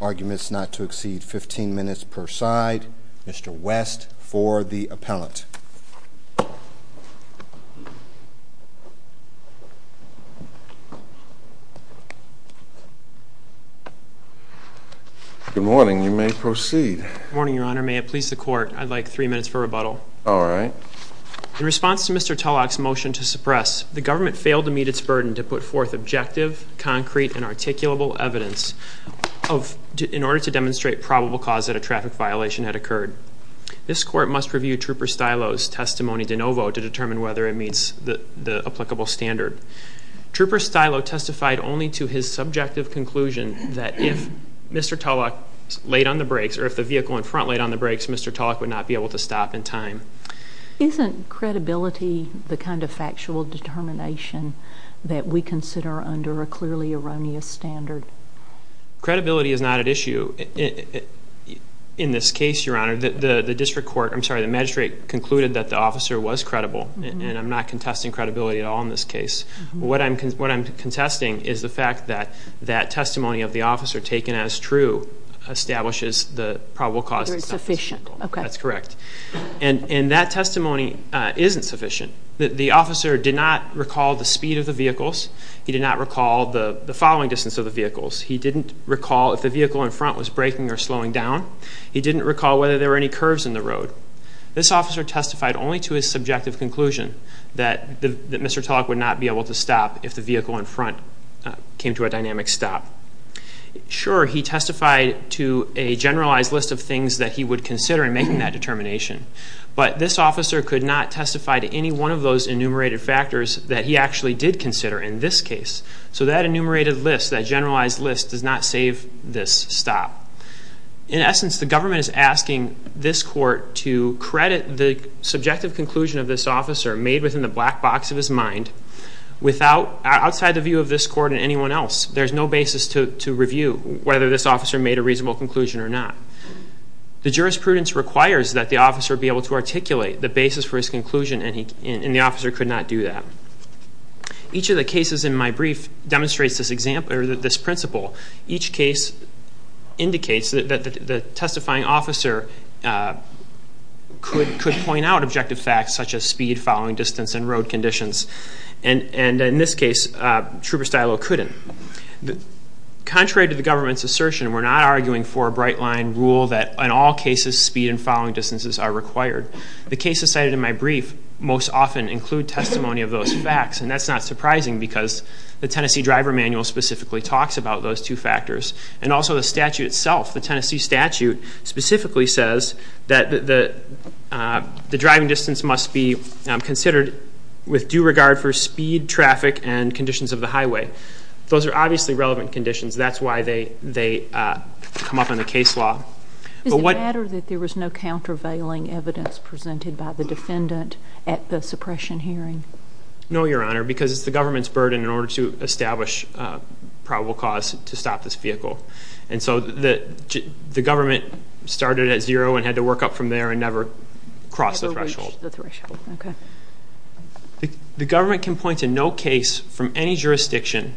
Arguments not to exceed 15 minutes per side. Mr. West for the appellant. Good morning. You may proceed. Good morning, your honor. May it please the court, I'd like three minutes for rebuttal. All right. In response to Mr. Tullock's motion to suppress, the government failed to meet its burden to put forth objective, concrete, and articulable evidence in order to demonstrate probable cause that a traffic violation had occurred. This court must review Trooper Stylo's testimony de novo to determine whether it meets the applicable standard. Trooper Stylo testified only to his subjective conclusion that if Mr. Tullock laid on the brakes, or if the vehicle in front laid on the brakes, Mr. Tullock would not be able to stop in time. Isn't credibility the kind of factual determination that we consider under a clearly erroneous standard? Credibility is not at issue in this case, your honor. The district court, I'm sorry, the magistrate concluded that the officer was credible, and I'm not contesting credibility at all in this case. What I'm contesting is the fact that that testimony of the officer taken as true establishes the probable cause. That it's sufficient. That's correct. And that testimony isn't sufficient. The officer did not recall the speed of the vehicles. He did not recall the following distance of the vehicles. He didn't recall if the vehicle in front was braking or slowing down. He didn't recall whether there were any curves in the road. This officer testified only to his subjective conclusion that Mr. Tullock would not be able to stop if the vehicle in front came to a dynamic stop. Sure, he testified to a generalized list of things that he would consider in making that determination. But this officer could not testify to any one of those enumerated factors that he actually did consider in this case. So that enumerated list, that generalized list, does not save this stop. In essence, the government is asking this court to credit the subjective conclusion of this officer made within the black box of his mind outside the view of this court and anyone else. There's no basis to review whether this officer made a reasonable conclusion or not. The jurisprudence requires that the officer be able to articulate the basis for his conclusion, and the officer could not do that. Each of the cases in my brief demonstrates this example or this principle. Each case indicates that the testifying officer could point out objective facts such as speed, following distance, and road conditions. And in this case, Trooper Stylo couldn't. Contrary to the government's assertion, we're not arguing for a bright line rule that in all cases speed and following distances are required. The cases cited in my brief most often include testimony of those facts, and that's not surprising because the Tennessee Driver Manual specifically talks about those two factors. And also the statute itself, the Tennessee statute, specifically says that the driving distance must be considered with due regard for speed, traffic, and conditions of the highway. Those are obviously relevant conditions. That's why they come up in the case law. Is it a matter that there was no countervailing evidence presented by the defendant at the suppression hearing? No, Your Honor, because it's the government's burden in order to establish probable cause to stop this vehicle. And so the government started at zero and had to work up from there and never crossed the threshold. Never reached the threshold, okay. The government can point to no case from any jurisdiction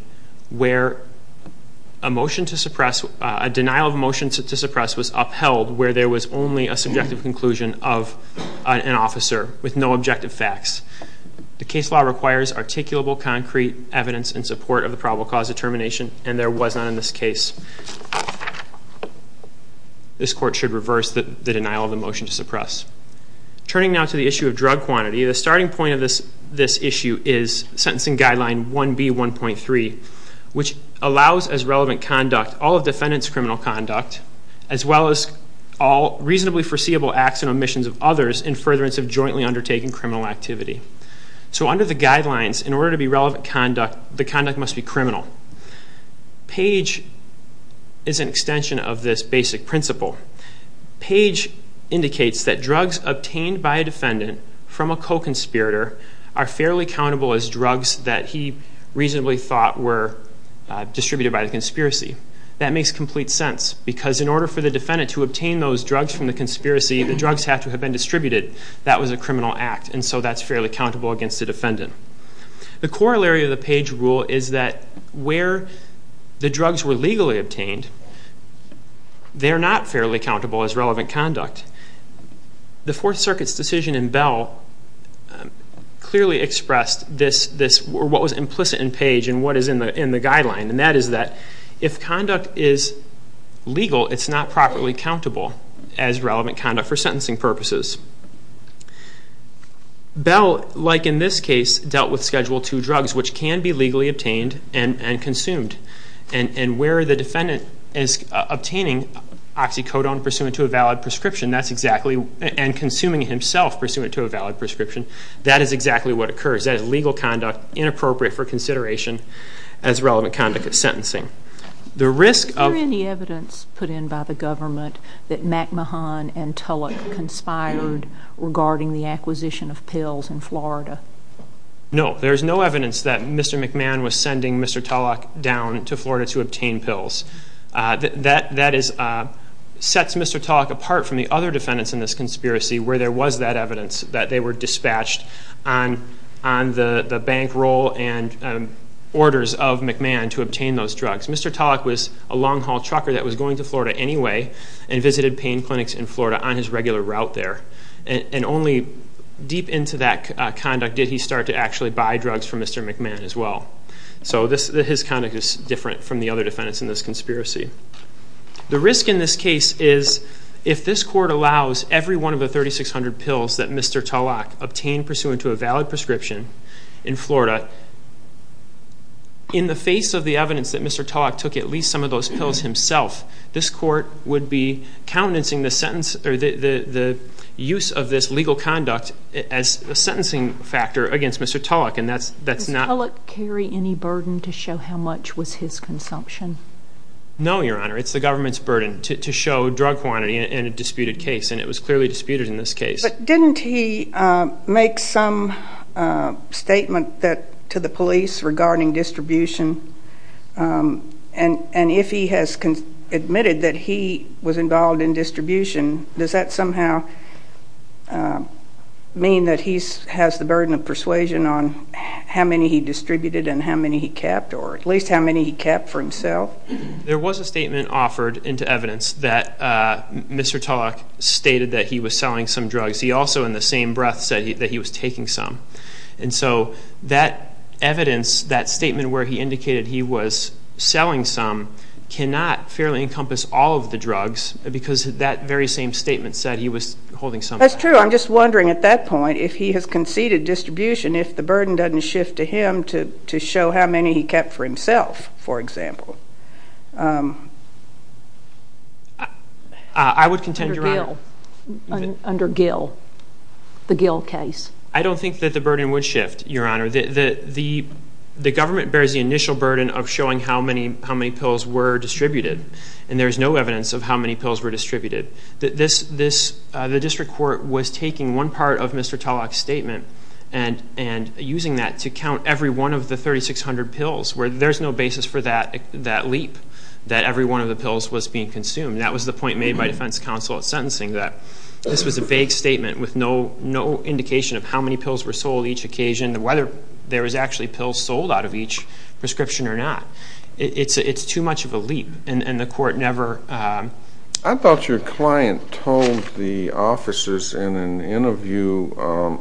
where a motion to suppress, a denial of motion to suppress was upheld where there was only a subjective conclusion of an officer with no objective facts. The case law requires articulable, concrete evidence in support of the probable cause determination, and there was not in this case. This court should reverse the denial of the motion to suppress. Turning now to the issue of drug quantity, the starting point of this issue is Sentencing Guideline 1B.1.3, which allows as relevant conduct all of defendant's criminal conduct, as well as all reasonably foreseeable acts and omissions of others in furtherance of jointly undertaking criminal activity. So under the guidelines, in order to be relevant conduct, the conduct must be criminal. Page is an extension of this basic principle. Page indicates that drugs obtained by a defendant from a co-conspirator are fairly countable as drugs that he reasonably thought were distributed by the conspiracy. That makes complete sense because in order for the defendant to obtain those drugs from the conspiracy, the drugs have to have been distributed. That was a criminal act, and so that's fairly countable against the defendant. The corollary of the Page rule is that where the drugs were legally obtained, they're not fairly countable as relevant conduct. The Fourth Circuit's decision in Bell clearly expressed this, or what was implicit in Page and what is in the guideline, and that is that if conduct is legal, it's not properly countable as relevant conduct for sentencing purposes. Bell, like in this case, dealt with Schedule II drugs, which can be legally obtained and consumed, and where the defendant is obtaining oxycodone pursuant to a valid prescription, and consuming it himself pursuant to a valid prescription, that is exactly what occurs. That is legal conduct inappropriate for consideration as relevant conduct of sentencing. The risk of- Is there any evidence put in by the government that McMahon and Tulloch conspired regarding the acquisition of pills in Florida? No. There is no evidence that Mr. McMahon was sending Mr. Tulloch down to Florida to obtain pills. That sets Mr. Tulloch apart from the other defendants in this conspiracy where there was that evidence that they were dispatched on the bankroll and orders of McMahon to obtain those drugs. Mr. Tulloch was a long-haul trucker that was going to Florida anyway and visited pain clinics in Florida on his regular route there, and only deep into that conduct did he start to actually buy drugs from Mr. McMahon as well. So his conduct is different from the other defendants in this conspiracy. The risk in this case is if this court allows every one of the 3,600 pills that Mr. Tulloch obtained pursuant to a valid prescription in Florida, in the face of the evidence that Mr. Tulloch took at least some of those pills himself, this court would be countenancing the use of this legal conduct as a sentencing factor against Mr. Tulloch, and that's not- No, Your Honor. It's the government's burden to show drug quantity in a disputed case, and it was clearly disputed in this case. But didn't he make some statement to the police regarding distribution? And if he has admitted that he was involved in distribution, does that somehow mean that he has the burden of persuasion on how many he distributed and how many he kept, or at least how many he kept for himself? There was a statement offered into evidence that Mr. Tulloch stated that he was selling some drugs. He also, in the same breath, said that he was taking some. And so that evidence, that statement where he indicated he was selling some, cannot fairly encompass all of the drugs because that very same statement said he was holding some. That's true. So I'm just wondering at that point, if he has conceded distribution, if the burden doesn't shift to him to show how many he kept for himself, for example. I would contend, Your Honor- Under Gill, the Gill case. I don't think that the burden would shift, Your Honor. The government bears the initial burden of showing how many pills were distributed, and there's no evidence of how many pills were distributed. The district court was taking one part of Mr. Tulloch's statement and using that to count every one of the 3,600 pills, where there's no basis for that leap that every one of the pills was being consumed. That was the point made by defense counsel at sentencing, that this was a vague statement with no indication of how many pills were sold each occasion and whether there was actually pills sold out of each prescription or not. It's too much of a leap, and the court never- I thought your client told the officers in an interview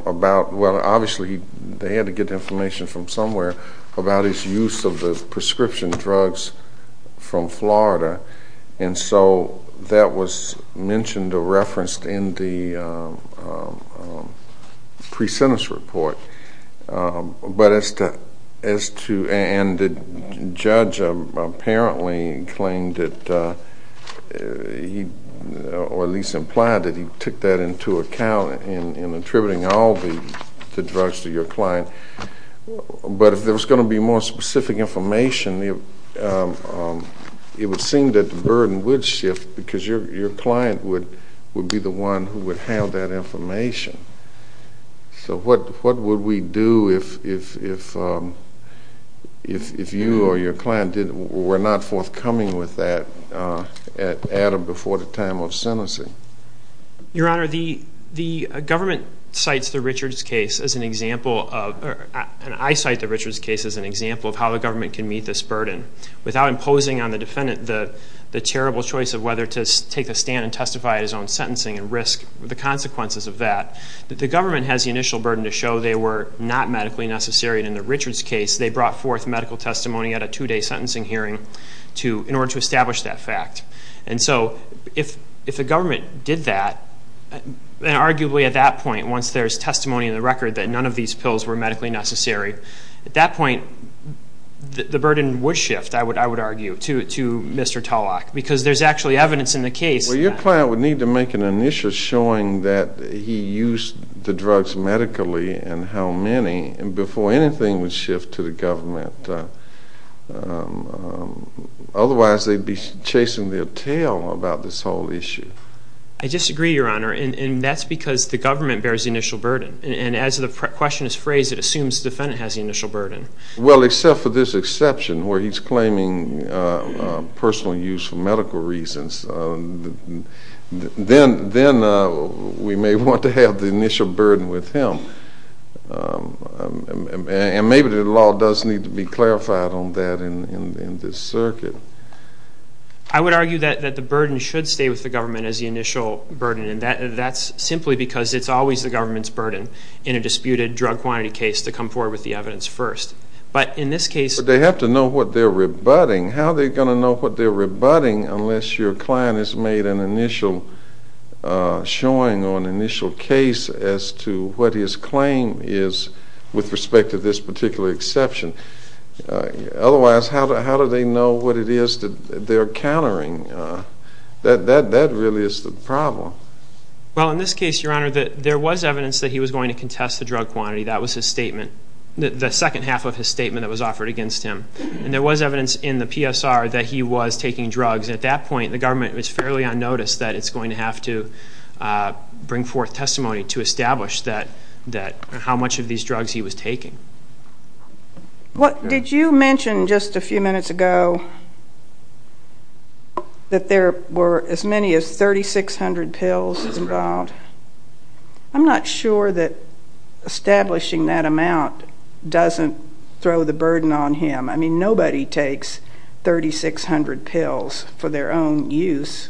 about- well, obviously they had to get information from somewhere- about his use of the prescription drugs from Florida, and so that was mentioned or referenced in the pre-sentence report. But as to- and the judge apparently claimed that he- or at least implied that he took that into account in attributing all the drugs to your client. But if there was going to be more specific information, it would seem that the burden would shift because your client would be the one who would have that information. So what would we do if you or your client were not forthcoming with that at or before the time of sentencing? Your Honor, the government cites the Richards case as an example of- and I cite the Richards case as an example of how the government can meet this burden without imposing on the defendant the terrible choice of whether to take a stand and testify at his own sentencing and risk the consequences of that. The government has the initial burden to show they were not medically necessary, and in the Richards case they brought forth medical testimony at a two-day sentencing hearing in order to establish that fact. And so if the government did that, then arguably at that point, once there's testimony in the record that none of these pills were medically necessary, at that point the burden would shift, I would argue, to Mr. Tulloch because there's actually evidence in the case- Well, your client would need to make an initial showing that he used the drugs medically and how many before anything would shift to the government. Otherwise they'd be chasing their tail about this whole issue. I disagree, Your Honor, and that's because the government bears the initial burden. And as the question is phrased, it assumes the defendant has the initial burden. Well, except for this exception where he's claiming personal use for medical reasons. Then we may want to have the initial burden with him. And maybe the law does need to be clarified on that in this circuit. I would argue that the burden should stay with the government as the initial burden, and that's simply because it's always the government's burden in a disputed drug quantity case to come forward with the evidence first. But in this case- But they have to know what they're rebutting. How are they going to know what they're rebutting unless your client has made an initial showing or an initial case as to what his claim is with respect to this particular exception? Otherwise, how do they know what it is that they're countering? That really is the problem. Well, in this case, Your Honor, there was evidence that he was going to contest the drug quantity. That was his statement, the second half of his statement that was offered against him. And there was evidence in the PSR that he was taking drugs. At that point, the government was fairly unnoticed that it's going to have to bring forth testimony to establish how much of these drugs he was taking. Did you mention just a few minutes ago that there were as many as 3,600 pills involved? I'm not sure that establishing that amount doesn't throw the burden on him. I mean, nobody takes 3,600 pills for their own use.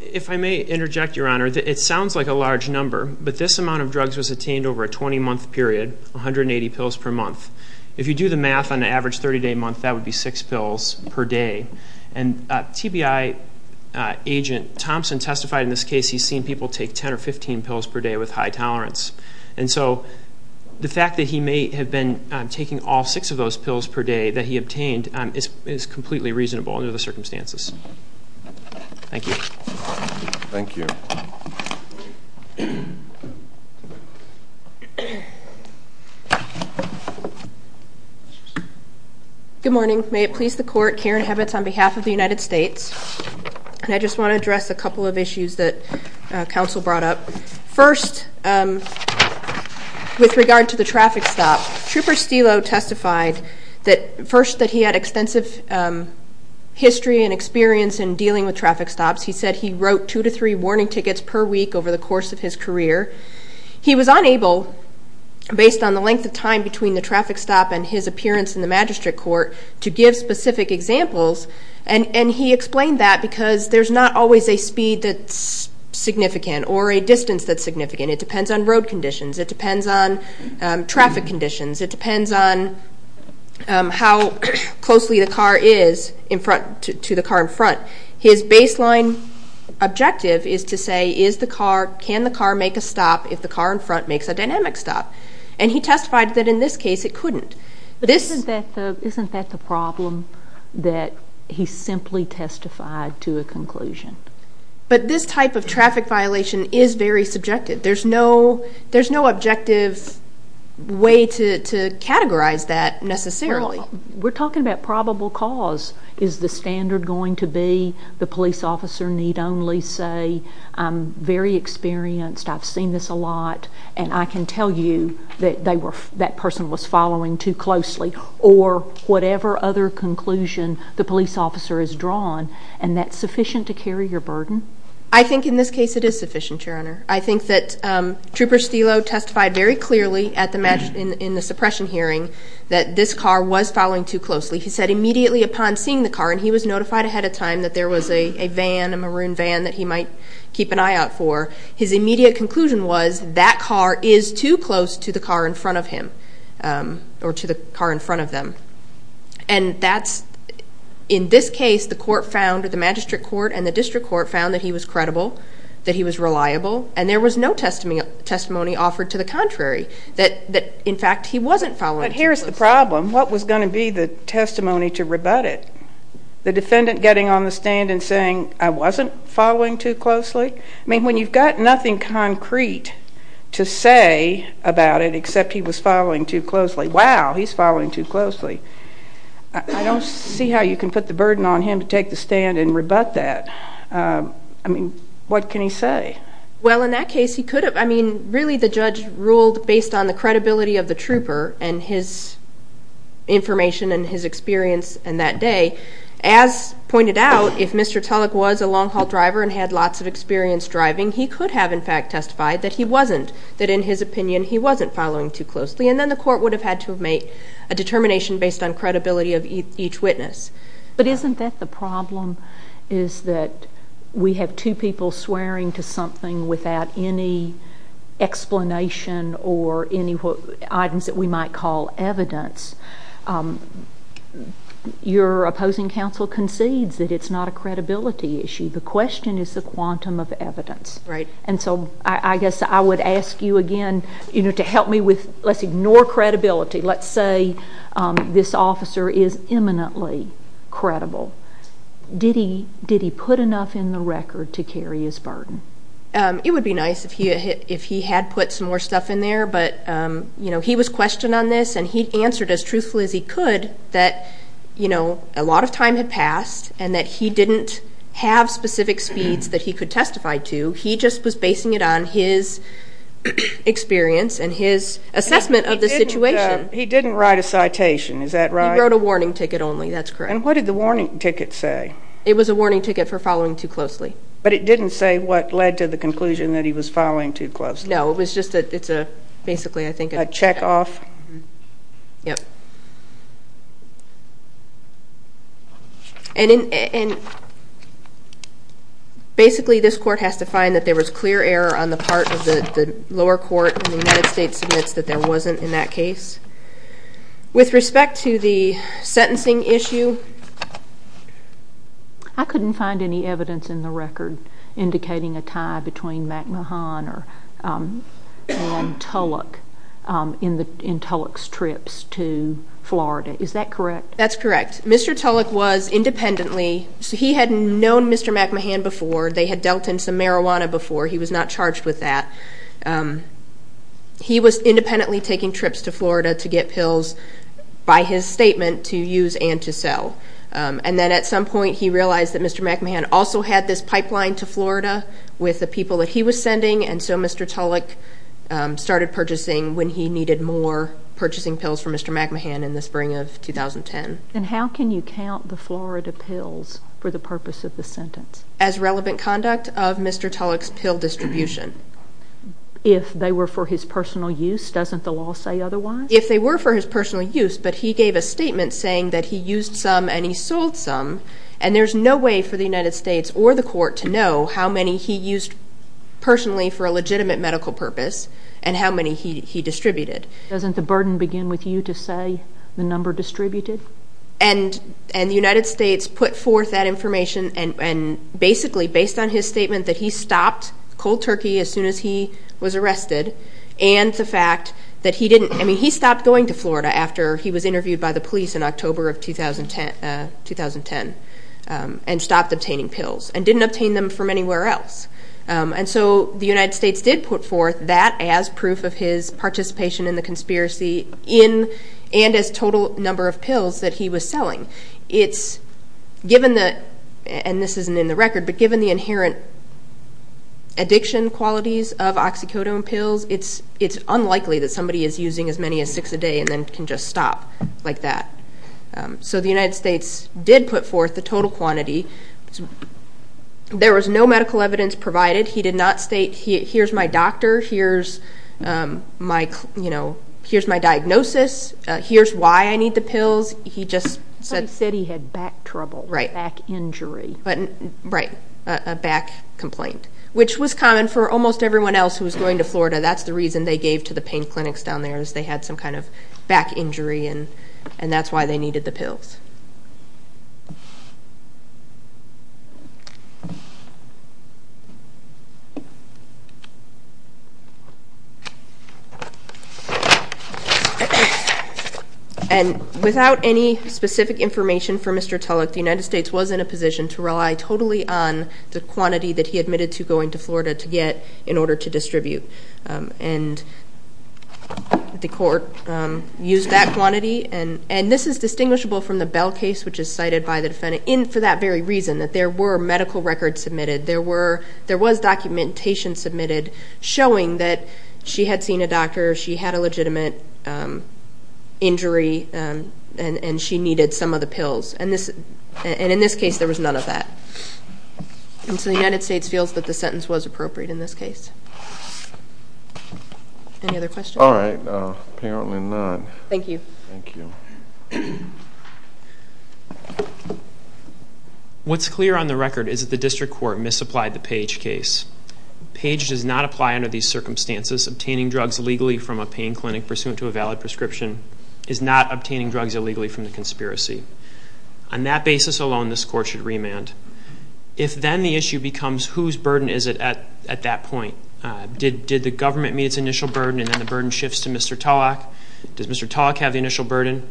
If I may interject, Your Honor, it sounds like a large number, but this amount of drugs was obtained over a 20-month period, 180 pills per month. If you do the math on an average 30-day month, that would be six pills per day. And TBI agent Thompson testified in this case he's seen people take 10 or 15 pills per day with high tolerance. And so the fact that he may have been taking all six of those pills per day that he obtained is completely reasonable under the circumstances. Thank you. Thank you. Good morning. May it please the Court, Karen Hebbets on behalf of the United States. And I just want to address a couple of issues that counsel brought up. First, with regard to the traffic stop, Trooper Stelow testified that first that he had extensive history and experience in dealing with traffic stops. He said he wrote two to three warning tickets per week over the course of his career. He was unable, based on the length of time between the traffic stop and his appearance in the magistrate court, to give specific examples, and he explained that because there's not always a speed that's significant or a distance that's significant. It depends on road conditions. It depends on traffic conditions. It depends on how closely the car is to the car in front. His baseline objective is to say, can the car make a stop if the car in front makes a dynamic stop? And he testified that in this case it couldn't. But isn't that the problem, that he simply testified to a conclusion? But this type of traffic violation is very subjective. There's no objective way to categorize that necessarily. We're talking about probable cause. Is the standard going to be the police officer need only say I'm very experienced, I've seen this a lot, and I can tell you that that person was following too closely, or whatever other conclusion the police officer has drawn, and that's sufficient to carry your burden? I think that Trooper Stelo testified very clearly in the suppression hearing that this car was following too closely. He said immediately upon seeing the car, and he was notified ahead of time that there was a van, a maroon van that he might keep an eye out for, his immediate conclusion was that car is too close to the car in front of him, or to the car in front of them. And that's, in this case, the court found, the magistrate court and the district court found that he was credible, that he was reliable, and there was no testimony offered to the contrary, that in fact he wasn't following too closely. But here's the problem. What was going to be the testimony to rebut it? The defendant getting on the stand and saying I wasn't following too closely? I mean, when you've got nothing concrete to say about it except he was following too closely, wow, he's following too closely. I don't see how you can put the burden on him to take the stand and rebut that. I mean, what can he say? Well, in that case, he could have. I mean, really the judge ruled based on the credibility of the trooper and his information and his experience in that day. As pointed out, if Mr. Tulloch was a long-haul driver and had lots of experience driving, he could have, in fact, testified that he wasn't, that in his opinion he wasn't following too closely, and then the court would have had to have made a determination based on credibility of each witness. But isn't that the problem is that we have two people swearing to something without any explanation or any items that we might call evidence? Your opposing counsel concedes that it's not a credibility issue. The question is the quantum of evidence. Right. And so I guess I would ask you again to help me with, let's ignore credibility. Let's say this officer is imminently credible. Did he put enough in the record to carry his burden? It would be nice if he had put some more stuff in there, but he was questioned on this, and he answered as truthfully as he could that a lot of time had passed and that he didn't have specific speeds that he could testify to. He just was basing it on his experience and his assessment of the situation. He didn't write a citation, is that right? He wrote a warning ticket only. That's correct. And what did the warning ticket say? It was a warning ticket for following too closely. But it didn't say what led to the conclusion that he was following too closely. No, it was just that it's basically, I think, a checkoff. Yep. And basically this court has to find that there was clear error on the part of the lower court when the United States admits that there wasn't in that case. With respect to the sentencing issue, I couldn't find any evidence in the record indicating a tie between McMahon and Tulloch in Tulloch's trips to Florida. Is that correct? That's correct. Mr. Tulloch was independently. He had known Mr. McMahon before. They had dealt in some marijuana before. He was not charged with that. He was independently taking trips to Florida to get pills, by his statement, to use and to sell. And so Mr. Tulloch started purchasing when he needed more, purchasing pills for Mr. McMahon in the spring of 2010. And how can you count the Florida pills for the purpose of the sentence? As relevant conduct of Mr. Tulloch's pill distribution. If they were for his personal use, doesn't the law say otherwise? If they were for his personal use, but he gave a statement saying that he used some and he sold some, and there's no way for the United States or the court to know how many he used personally for a legitimate medical purpose and how many he distributed. Doesn't the burden begin with you to say the number distributed? And the United States put forth that information, and basically based on his statement that he stopped cold turkey as soon as he was arrested, and the fact that he didn't, I mean, he stopped going to Florida after he was interviewed by the police in October of 2010, and stopped obtaining pills, and didn't obtain them from anywhere else. And so the United States did put forth that as proof of his participation in the conspiracy in and as total number of pills that he was selling. It's given that, and this isn't in the record, but given the inherent addiction qualities of oxycodone pills, it's unlikely that somebody is using as many as six a day and then can just stop like that. So the United States did put forth the total quantity. There was no medical evidence provided. He did not state, here's my doctor, here's my diagnosis, here's why I need the pills. He said he had back trouble, back injury. Right, a back complaint, which was common for almost everyone else who was going to Florida. That's the reason they gave to the pain clinics down there is they had some kind of back injury, and that's why they needed the pills. And without any specific information for Mr. Tulloch, the United States was in a position to rely totally on the quantity that he admitted to going to Florida to get in order to distribute, and the court used that quantity. And this is distinguishable from the Bell case, which is cited by the defendant, for that very reason, that there were medical records submitted. There was documentation submitted showing that she had seen a doctor, she had a legitimate injury, and she needed some of the pills. And in this case, there was none of that. And so the United States feels that the sentence was appropriate in this case. Any other questions? All right. Apparently not. Thank you. Thank you. What's clear on the record is that the district court misapplied the Page case. Page does not apply under these circumstances. Obtaining drugs illegally from a pain clinic pursuant to a valid prescription is not obtaining drugs illegally from the conspiracy. On that basis alone, this court should remand. If then the issue becomes whose burden is it at that point, did the government meet its initial burden, and then the burden shifts to Mr. Tulloch? Does Mr. Tulloch have the initial burden?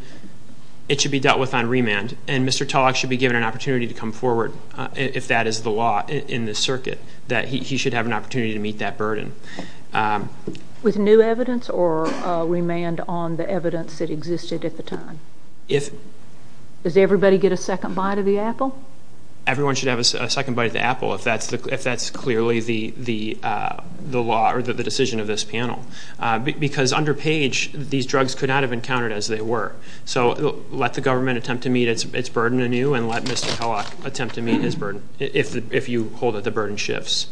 It should be dealt with on remand, and Mr. Tulloch should be given an opportunity to come forward, if that is the law in this circuit, that he should have an opportunity to meet that burden. With new evidence or remand on the evidence that existed at the time? Does everybody get a second bite of the apple? Everyone should have a second bite of the apple, if that's clearly the decision of this panel. Because under Page, these drugs could not have been counted as they were. So let the government attempt to meet its burden anew, and let Mr. Tulloch attempt to meet his burden, if you hold that the burden shifts.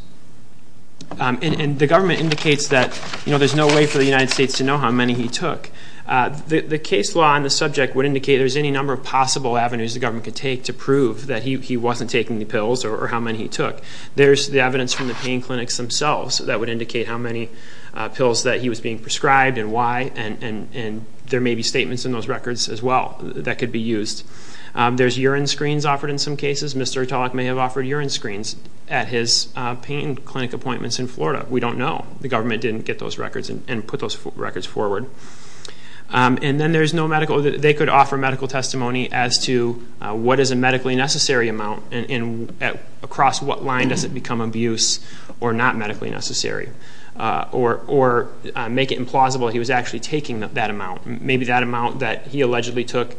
The government indicates that there's no way for the United States to know how many he took. The case law on the subject would indicate there's any number of possible avenues the government could take to prove that he wasn't taking the pills or how many he took. There's the evidence from the pain clinics themselves that would indicate how many pills that he was being prescribed and why, and there may be statements in those records as well that could be used. There's urine screens offered in some cases. Mr. Tulloch may have offered urine screens at his pain clinic appointments in Florida. We don't know. The government didn't get those records and put those records forward. And then there's no medical. They could offer medical testimony as to what is a medically necessary amount and across what line does it become abuse or not medically necessary, or make it implausible he was actually taking that amount. Maybe that amount that he allegedly took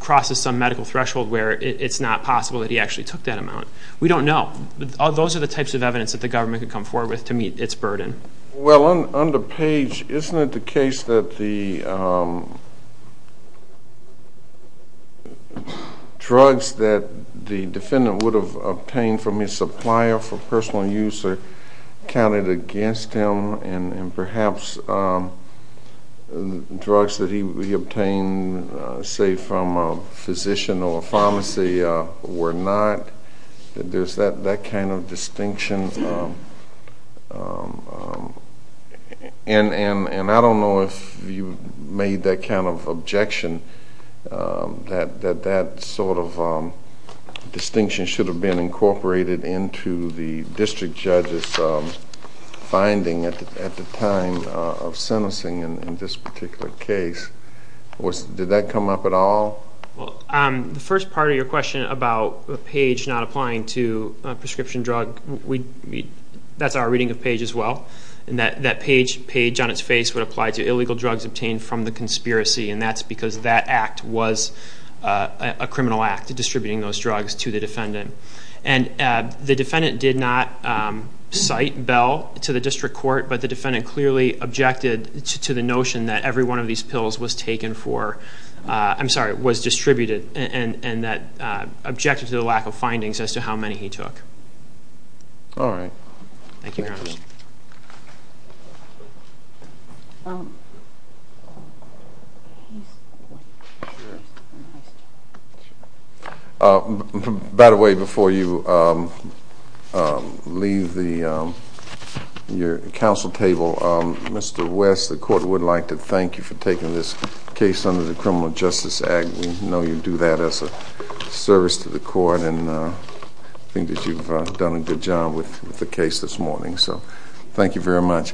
crosses some medical threshold where it's not possible that he actually took that amount. We don't know. Those are the types of evidence that the government could come forward with to meet its burden. Well, under Page, isn't it the case that the drugs that the defendant would have obtained from his supplier for personal use are counted against him and perhaps drugs that he obtained, say, from a physician or a pharmacy were not? There's that kind of distinction, and I don't know if you made that kind of objection that that sort of distinction should have been incorporated into the district judge's finding at the time of sentencing in this particular case. Did that come up at all? The first part of your question about Page not applying to a prescription drug, that's our reading of Page as well, that Page on its face would apply to illegal drugs obtained from the conspiracy, and that's because that act was a criminal act, distributing those drugs to the defendant. And the defendant did not cite Bell to the district court, but the defendant clearly objected to the notion that every one of these pills was taken for I'm sorry, was distributed and that objected to the lack of findings as to how many he took. All right. Thank you, Your Honor. By the way, before you leave your counsel table, Mr. West, the court would like to thank you for taking this case under the Criminal Justice Act. We know you do that as a service to the court, and I think that you've done a good job with the case this morning, so thank you very much.